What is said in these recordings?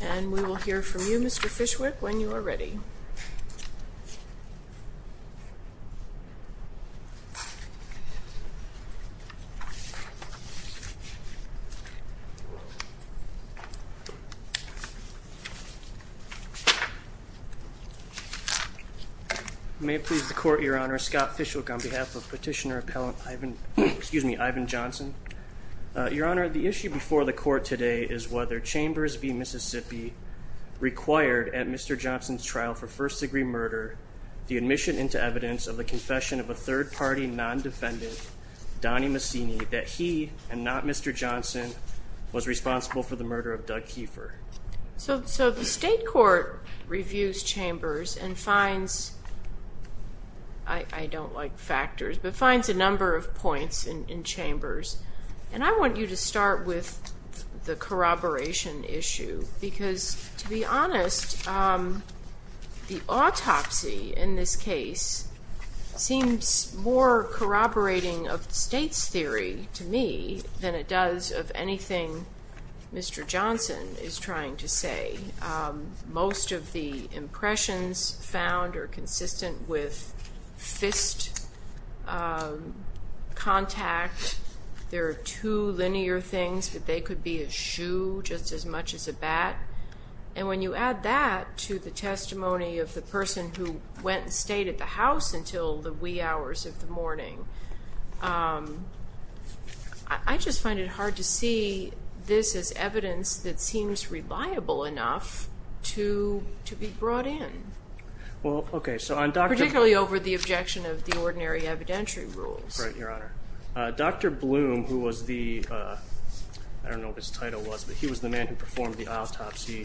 And we will hear from you, Mr. Fishwick, when you are ready. May it please the Court, Your Honor, Scott Fishwick on behalf of Petitioner Appellant Ivan, excuse me, Ivan Johnson. Your Honor, the issue before the Court today is whether Chambers v. Mississippi required at Mr. Johnson's trial for first-degree murder the admission into evidence of the confession of a third-party non-defendant, Donnie Massini, that he, and not Mr. Johnson, was responsible for the murder of Doug Keefer. So the State Court reviews Chambers and finds, I don't like factors, but finds a number of points in Chambers. And I want you to start with the corroboration issue because, to be honest, the autopsy in this case seems more corroborating of the State's theory to me than it does of anything Mr. Johnson is trying to say. Most of the impressions found are consistent with fist contact. There are two linear things, that they could be a shoe just as much as a bat. And when you add that to the testimony of the person who went and stayed at the house until the wee hours of the morning, I just find it hard to see this as evidence that was enough to be brought in, particularly over the objection of the ordinary evidentiary rules. Right, Your Honor. Dr. Bloom, who was the, I don't know what his title was, but he was the man who performed the autopsy,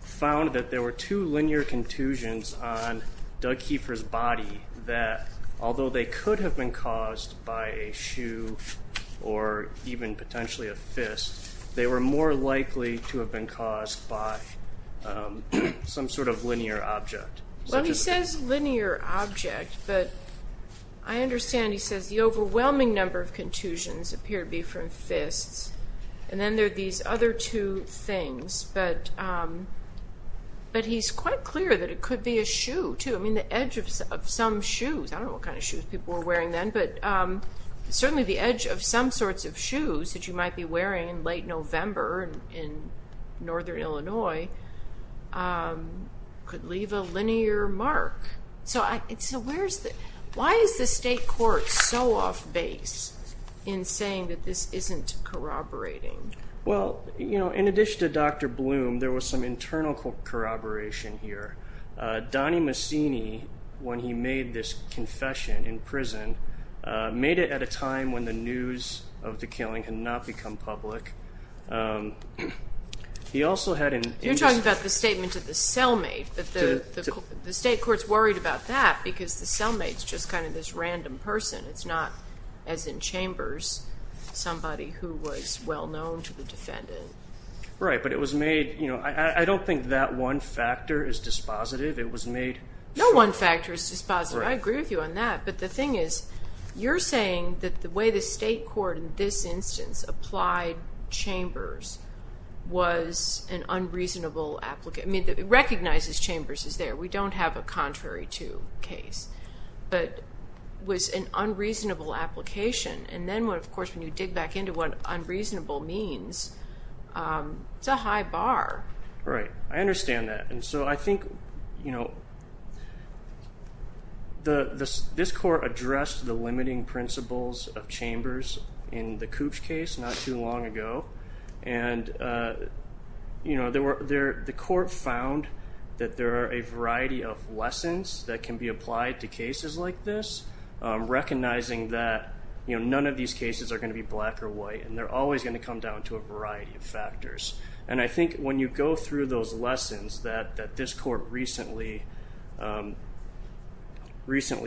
found that there were two linear contusions on Doug Keefer's body that, although they could have been caused by a shoe or even potentially a fist, they were more likely to have been caused by some sort of linear object. Well, he says linear object, but I understand he says the overwhelming number of contusions appear to be from fists. And then there are these other two things, but he's quite clear that it could be a shoe too. I mean, the edge of some shoes, I don't know what kind of shoes people were wearing then, but certainly the edge of some sorts of shoes that you might be wearing in late November in Northern Illinois could leave a linear mark. So where's the, why is the state court so off base in saying that this isn't corroborating? Well, you know, in addition to Dr. Bloom, there was some internal corroboration here. Donnie Mussini, when he made this confession in prison, made it at a time when the news of the killing had not become public. He also had an... You're talking about the statement of the cellmate, but the state court's worried about that because the cellmate's just kind of this random person. It's not, as in chambers, somebody who was well known to the defendant. Right, but it was made, you know, I don't think that one factor is dispositive. It was made... No one factor is dispositive. I agree with you on that. But the thing is, you're saying that the way the state court in this instance applied chambers was an unreasonable, I mean, recognizes chambers is there. We don't have a contrary to case, but was an unreasonable application. And then, of course, when you dig back into what unreasonable means, it's a high bar. Right. I understand that. And so I think, you know, this court addressed the limiting principles of chambers in the Cooch case not too long ago, and, you know, the court found that there are a variety of lessons that can be applied to cases like this, recognizing that, you know, none of these cases are going to be black or white, and they're always going to come down to a variety of factors. And I think when you go through those lessons that this court recently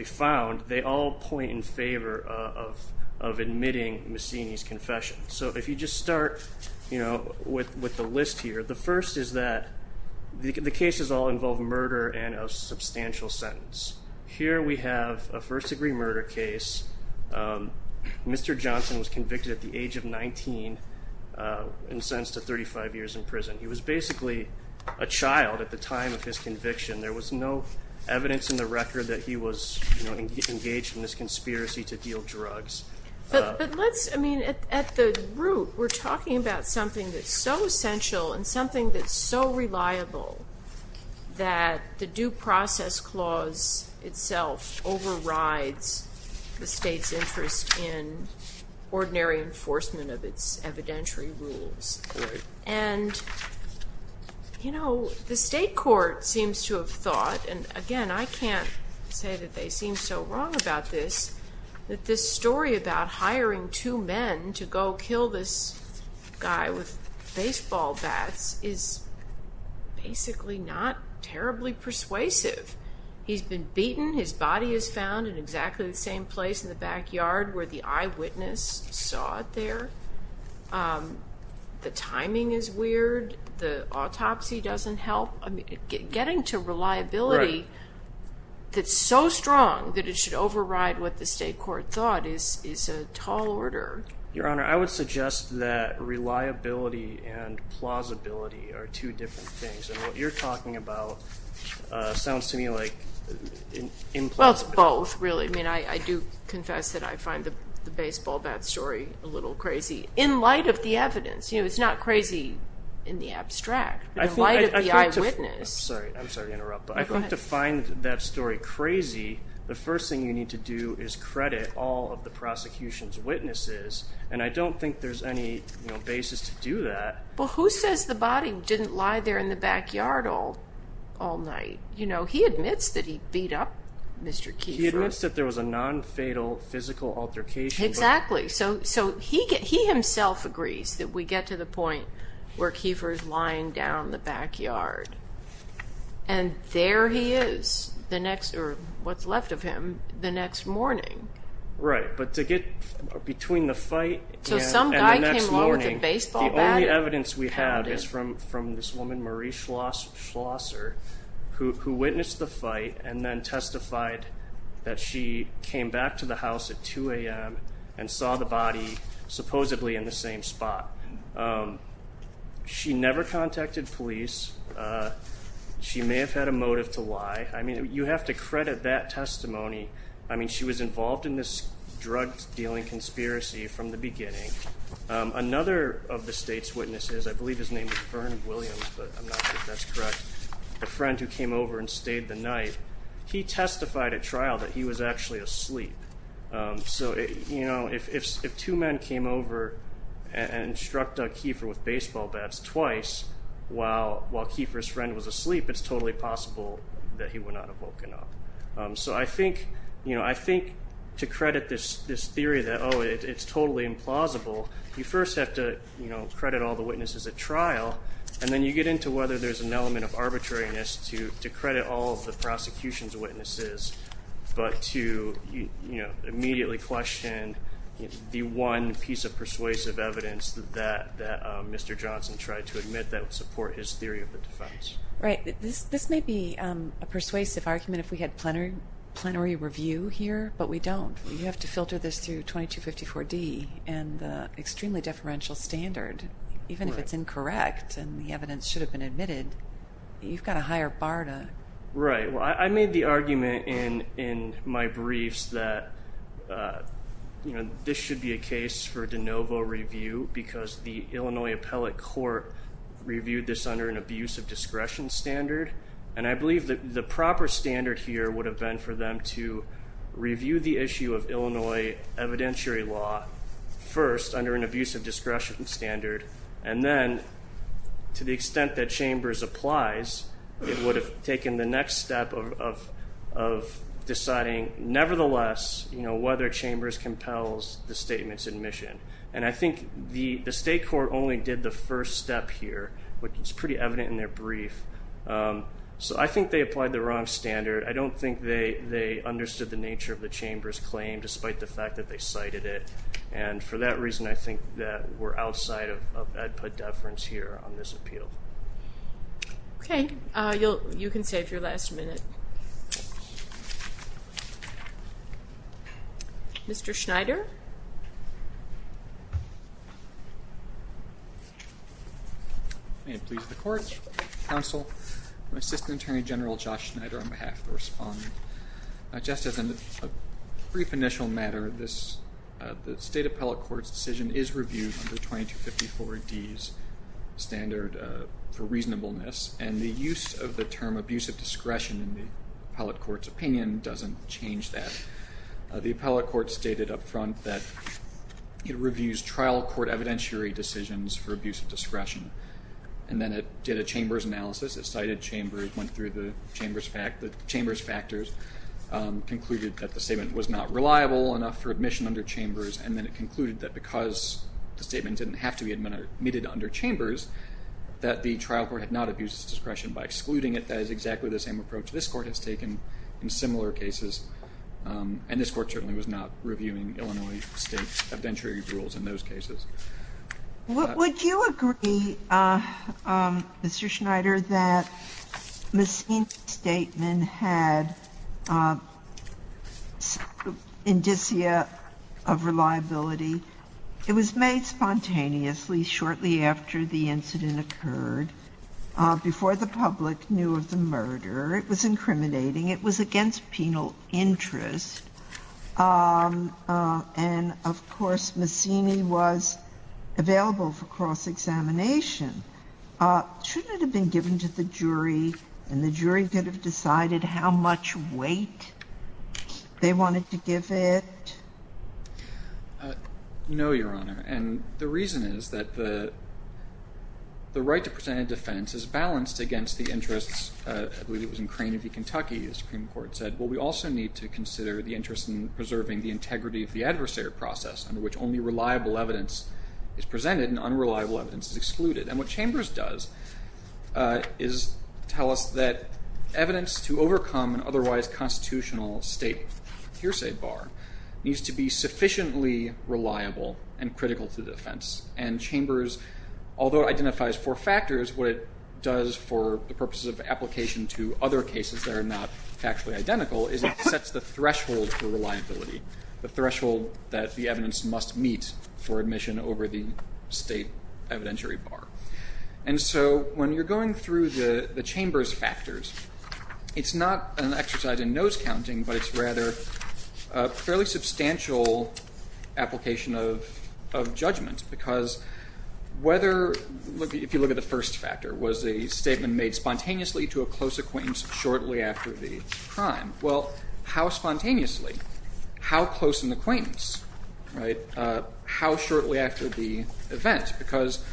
found, they all point in favor of admitting Messini's confession. So if you just start, you know, with the list here, the first is that the cases all involve murder and a substantial sentence. Here we have a first degree murder case. Mr. Johnson was convicted at the age of 19 and sentenced to 35 years in prison. He was basically a child at the time of his conviction. There was no evidence in the record that he was, you know, engaged in this conspiracy to deal drugs. But let's, I mean, at the root, we're talking about something that's so essential and something that's so reliable that the due process clause itself overrides the state's interest in ordinary enforcement of its evidentiary rules. And you know, the state court seems to have thought, and again, I can't say that they seem so wrong about this, that this story about hiring two men to go kill this guy with is basically not terribly persuasive. He's been beaten, his body is found in exactly the same place in the backyard where the eyewitness saw it there. The timing is weird, the autopsy doesn't help. Getting to reliability that's so strong that it should override what the state court thought is a tall order. Your Honor, I would suggest that reliability and plausibility are two different things. And what you're talking about sounds to me like implausible. Well, it's both, really. I mean, I do confess that I find the baseball bat story a little crazy, in light of the evidence. You know, it's not crazy in the abstract, but in light of the eyewitness. I'm sorry to interrupt, but I think to find that story crazy, the first thing you need to do is credit all of the prosecution's witnesses. And I don't think there's any basis to do that. Well, who says the body didn't lie there in the backyard all night? You know, he admits that he beat up Mr. Kiefer. He admits that there was a non-fatal physical altercation. Exactly. So, he himself agrees that we get to the point where Kiefer's lying down in the backyard. And there he is, the next, or what's left of him, the next morning. Right. But to get between the fight and the next morning. So, some guy came along with a baseball bat and pounded him. The only evidence we have is from this woman, Marie Schlosser, who witnessed the fight and then testified that she came back to the house at 2 a.m. and saw the body, supposedly, in the same spot. She never contacted police. She may have had a motive to lie. I mean, you have to credit that testimony. I mean, she was involved in this drug-dealing conspiracy from the beginning. Another of the state's witnesses, I believe his name was Vernon Williams, but I'm not sure if that's correct, a friend who came over and stayed the night, he testified at trial that he was actually asleep. So, you know, if two men came over and struck Doug Kiefer with baseball bats twice while Kiefer's friend was asleep, it's totally possible that he would not have woken up. So I think, you know, I think to credit this theory that, oh, it's totally implausible, you first have to, you know, credit all the witnesses at trial, and then you get into whether there's an element of arbitrariness to credit all of the prosecution's witnesses, but to, you know, immediately question the one piece of persuasive evidence that Mr. Johnson tried to admit that would support his theory of the defense. Right. This may be a persuasive argument if we had plenary review here, but we don't. You have to filter this through 2254D and the extremely deferential standard. Even if it's incorrect and the evidence should have been admitted, you've got a higher bar to... Right. I made the argument in my briefs that, you know, this should be a case for de novo review because the Illinois appellate court reviewed this under an abuse of discretion standard, and I believe that the proper standard here would have been for them to review the issue of Illinois evidentiary law first under an abuse of discretion standard, and then to the extent that Chambers applies, it would have taken the next step of deciding, nevertheless, you know, whether Chambers compels the statement's admission, and I think the state court only did the first step here, which is pretty evident in their brief, so I think they applied the wrong standard. I don't think they understood the nature of the Chambers claim, despite the fact that they cited it, and for that reason, I think that we're outside of ad ped deference here on this appeal. Okay. You can save your last minute. Mr. Schneider? May it please the court, counsel, my assistant attorney general, Josh Schneider, on behalf of the respondent. Just as a brief initial matter, the state appellate court's decision is reviewed under § 2254D's standard for reasonableness, and the use of the term abuse of discretion in the appellate court's opinion doesn't change that. The appellate court stated up front that it reviews trial court evidentiary decisions for abuse of discretion, and then it did a Chambers analysis, it cited Chambers, went through the Chambers factors, concluded that the statement was not reliable enough for it to have to be admitted under Chambers, that the trial court had not abused its discretion by excluding it. That is exactly the same approach this court has taken in similar cases, and this court certainly was not reviewing Illinois state evidentiary rules in those cases. Would you agree, Mr. Schneider, that Messina's statement had indicia of reliability? It was made spontaneously shortly after the incident occurred, before the public knew of the murder. It was incriminating, it was against penal interest, and of course, Messina was available for cross-examination. Shouldn't it have been given to the jury, and the jury could have decided how much weight they wanted to give it? No, Your Honor, and the reason is that the right to present a defense is balanced against the interests, I believe it was in Crane v. Kentucky, the Supreme Court said, well, we also need to consider the interest in preserving the integrity of the adversary process, under which only reliable evidence is presented, and unreliable evidence is excluded, and what constitutional state hearsay bar needs to be sufficiently reliable and critical to the defense, and Chambers, although it identifies four factors, what it does for the purposes of application to other cases that are not factually identical is it sets the threshold for reliability, the threshold that the evidence must meet for admission over the state evidentiary bar. And so when you're going through the Chambers factors, it's not an exercise in nose-counting, but it's rather a fairly substantial application of judgment, because whether, if you look at the first factor, was the statement made spontaneously to a close acquaintance shortly after the crime, well, how spontaneously, how close an acquaintance, right, how shortly after the event, because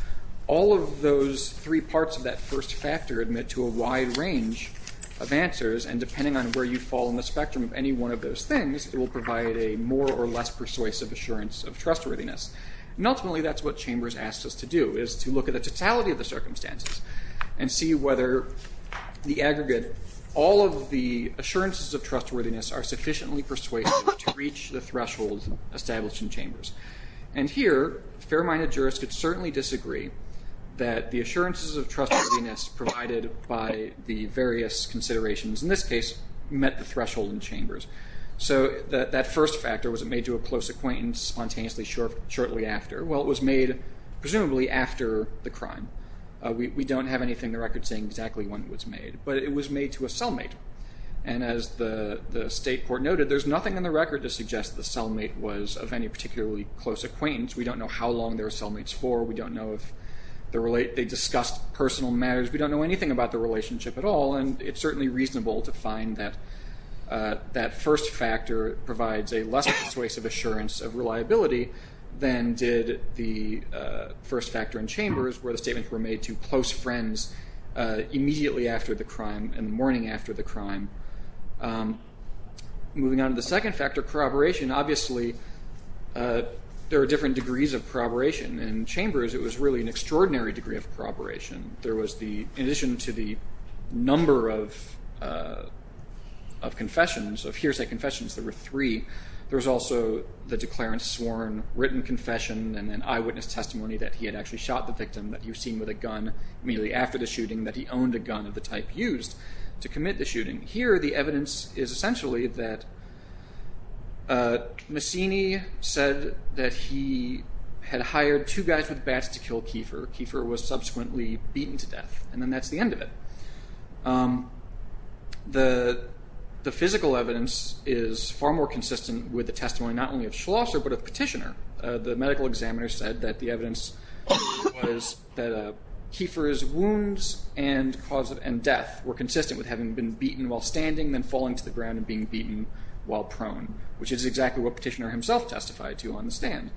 all of those three parts of that first factor admit to a wide range of answers, and depending on where you fall in the spectrum of any one of those things, it will provide a more or less persuasive assurance of trustworthiness. And ultimately, that's what Chambers asks us to do, is to look at the totality of the circumstances and see whether the aggregate, all of the assurances of trustworthiness are sufficiently persuasive to reach the threshold established in Chambers. And here, fair-minded jurists could certainly disagree that the assurances of trustworthiness provided by the various considerations in this case met the threshold in Chambers. So that first factor, was it made to a close acquaintance spontaneously shortly after? Well, it was made presumably after the crime. We don't have anything in the record saying exactly when it was made, but it was made to a cellmate. And as the state court noted, there's nothing in the record to suggest the cellmate was of any particularly close acquaintance. We don't know how long they were cellmates for, we don't know if they discussed personal matters, we don't know anything about the relationship at all, and it's certainly reasonable to find that that first factor provides a less persuasive assurance of reliability than did the first factor in Chambers, where the statements were made to close friends immediately after the crime and the morning after the crime. Moving on to the second factor, corroboration. Obviously, there are different degrees of corroboration. In Chambers, it was really an extraordinary degree of corroboration. There was the, in addition to the number of confessions, of hearsay confessions, there were three. There was also the declarant's sworn written confession and an eyewitness testimony that he had actually shot the victim that you've seen with a gun immediately after the shooting, that he owned a gun of the type used to commit the shooting. Here the evidence is essentially that Massini said that he had hired two guys with bats to kill Kiefer. Kiefer was subsequently beaten to death, and then that's the end of it. The physical evidence is far more consistent with the testimony not only of Schlosser but of Petitioner. The medical examiner said that the evidence was that Kiefer's wounds and cause of death were consistent with having been beaten while standing, then falling to the ground and being beaten while prone, which is exactly what Petitioner himself testified to on the stand.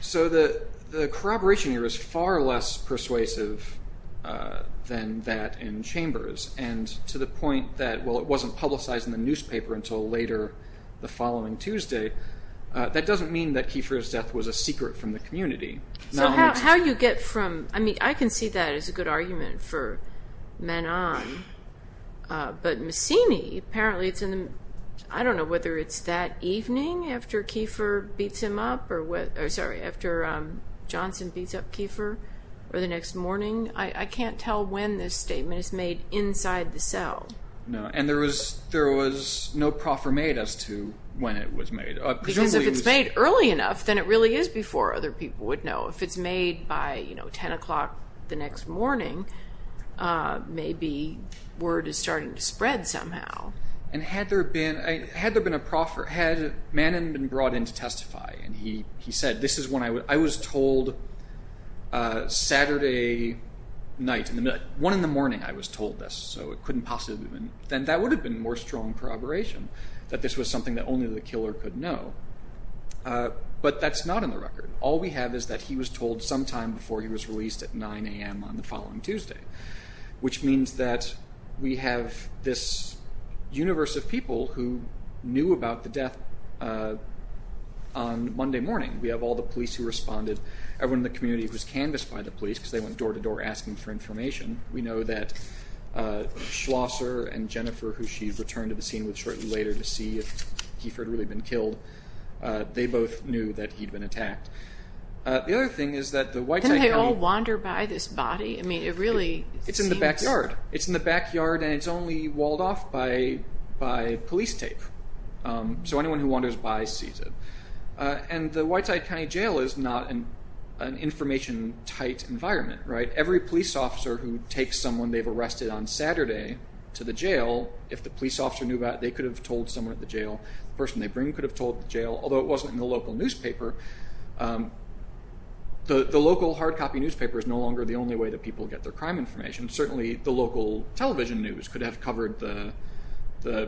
The corroboration here is far less persuasive than that in Chambers, and to the point that, while it wasn't publicized in the newspaper until later the following Tuesday, that doesn't mean that Kiefer's death was a secret from the community. I can see that as a good argument for Menon, but Massini, I don't know whether it's that evening after Johnson beats up Kiefer or the next morning. I can't tell when this statement is made inside the cell. No, and there was no proffer made as to when it was made. Because if it's made early enough, then it really is before other people would know. If it's made by 10 o'clock the next morning, maybe word is starting to spread somehow. Had Menon been brought in to testify, and he said, I was told Saturday night, one in the morning I was told this, then that would have been more strong corroboration, that this was something that only the killer could know. But that's not in the record. All we have is that he was told sometime before he was released at 9am on the following Tuesday. Which means that we have this universe of people who knew about the death on Monday morning. We have all the police who responded. Everyone in the community was canvassed by the police because they went door to door asking for information. We know that Schlosser and Jennifer, who she returned to the scene with shortly later to see if Kiefer had really been killed, they both knew that he'd been attacked. The other thing is that the Whitetide County- Didn't they all wander by this body? I mean, it really seems- It's in the backyard. It's in the backyard, and it's only walled off by police tape. So anyone who wanders by sees it. The Whitetide County Jail is not an information-tight environment. Every police officer who takes someone they've arrested on Saturday to the jail, if the police officer knew about it, they could have told someone at the jail, the person they bring could have told the jail, although it wasn't in the local newspaper. The local hard copy newspaper is no longer the only way that people get their crime information. Certainly the local television news could have covered the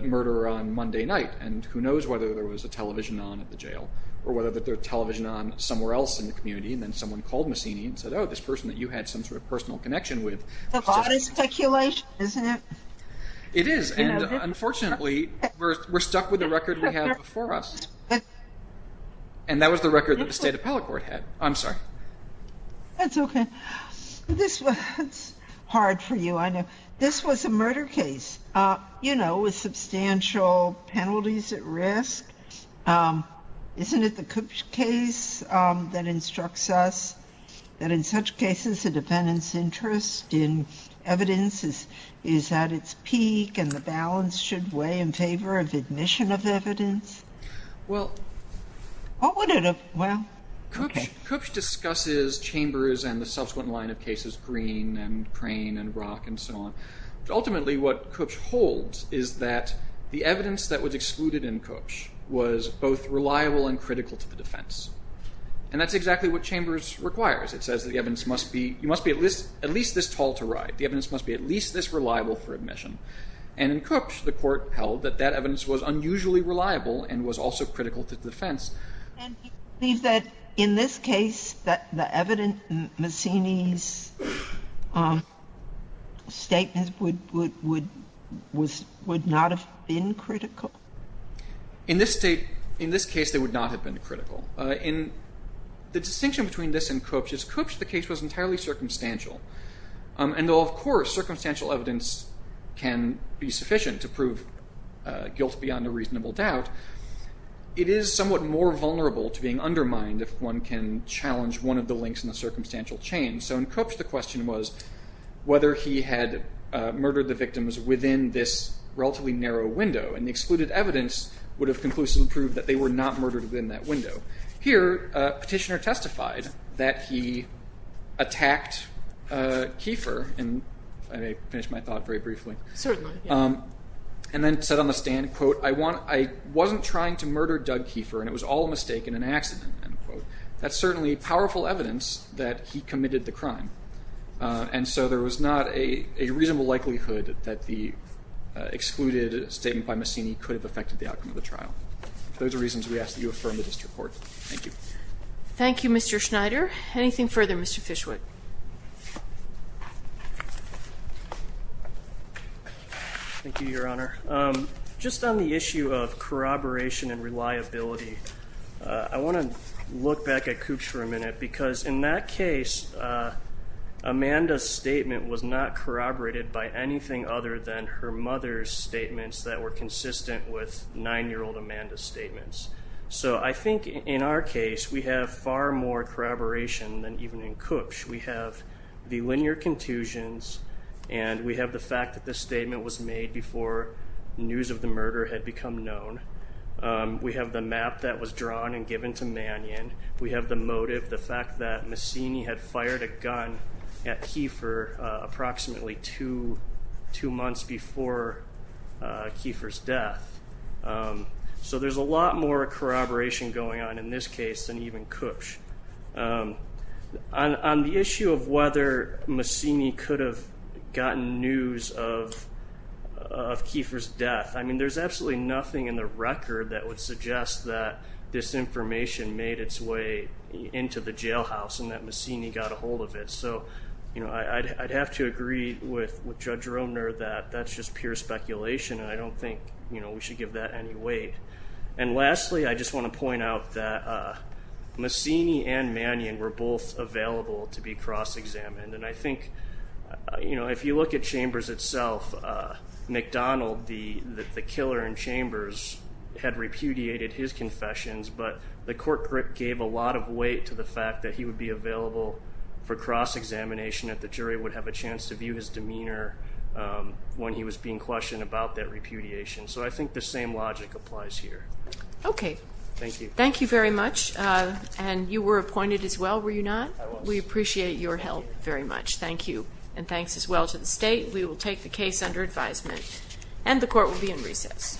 murder on Monday night, and who knows whether there was a television on at the jail, or whether there was a television on somewhere else in the community, and then someone called Masini and said, oh, this person that you had some sort of personal connection with- It's a lot of speculation, isn't it? It is, and unfortunately, we're stuck with the record we have before us. And that was the record that the State Appellate Court had. I'm sorry. That's okay. This was hard for you, I know. This was a murder case, you know, with substantial penalties at risk. Isn't it the Koops case that instructs us that in such cases, the defendant's interest in evidence is at its peak, and the balance should weigh in favor of admission of evidence? Well, Koops discusses chambers and the subsequent line of cases, Green and Crane and Rock and so on. Ultimately, what Koops holds is that the evidence that was excluded in Koops was both reliable and critical to the defense. And that's exactly what chambers requires. It says that the evidence must be at least this tall to ride. The evidence must be at least this reliable for admission. And in Koops, the court held that that evidence was unusually reliable and was also critical to the defense. And do you believe that in this case, that the evidence in Mussini's statement would not have been critical? In this case, they would not have been critical. The distinction between this and Koops is Koops, the case, was entirely circumstantial. And though, of course, circumstantial evidence can be sufficient to prove guilt beyond a more vulnerable to being undermined if one can challenge one of the links in the circumstantial chain. So in Koops, the question was whether he had murdered the victims within this relatively narrow window. And the excluded evidence would have conclusively proved that they were not murdered within that window. Here, Petitioner testified that he attacked Kiefer, and I may finish my thought very briefly. Certainly. And then said on the stand, quote, I wasn't trying to murder Doug Kiefer. And it was all a mistake and an accident, end quote. That's certainly powerful evidence that he committed the crime. And so there was not a reasonable likelihood that the excluded statement by Mussini could have affected the outcome of the trial. Those are reasons we ask that you affirm the district court. Thank you. Thank you, Mr. Schneider. Anything further, Mr. Fishwood? Thank you, Your Honor. Just on the issue of corroboration and reliability, I want to look back at Koops for a minute because in that case, Amanda's statement was not corroborated by anything other than her mother's statements that were consistent with nine-year-old Amanda's statements. So I think in our case, we have far more corroboration than even in Koops. We have the linear contusions, and we have the fact that this statement was made before news of the murder had become known. We have the map that was drawn and given to Mannion. We have the motive, the fact that Mussini had fired a gun at Kiefer approximately two months before Kiefer's death. So there's a lot more corroboration going on in this case than even Koops. On the issue of whether Mussini could have gotten news of Kiefer's death, I mean, there's absolutely nothing in the record that would suggest that this information made its way into the jailhouse and that Mussini got a hold of it. So I'd have to agree with Judge Romner that that's just pure speculation, and I don't think we should give that any weight. And lastly, I just want to point out that Mussini and Mannion were both available to be cross-examined, and I think, you know, if you look at Chambers itself, McDonald, the killer in Chambers, had repudiated his confessions, but the court gave a lot of weight to the fact that he would be available for cross-examination, that the jury would have a chance to view his demeanor when he was being questioned about that repudiation. So I think the same logic applies here. Okay. Thank you. Thank you very much. And you were appointed as well, were you not? I was. We appreciate your help very much. Thank you. And thanks as well to the state. We will take the case under advisement, and the court will be in recess. Thank you.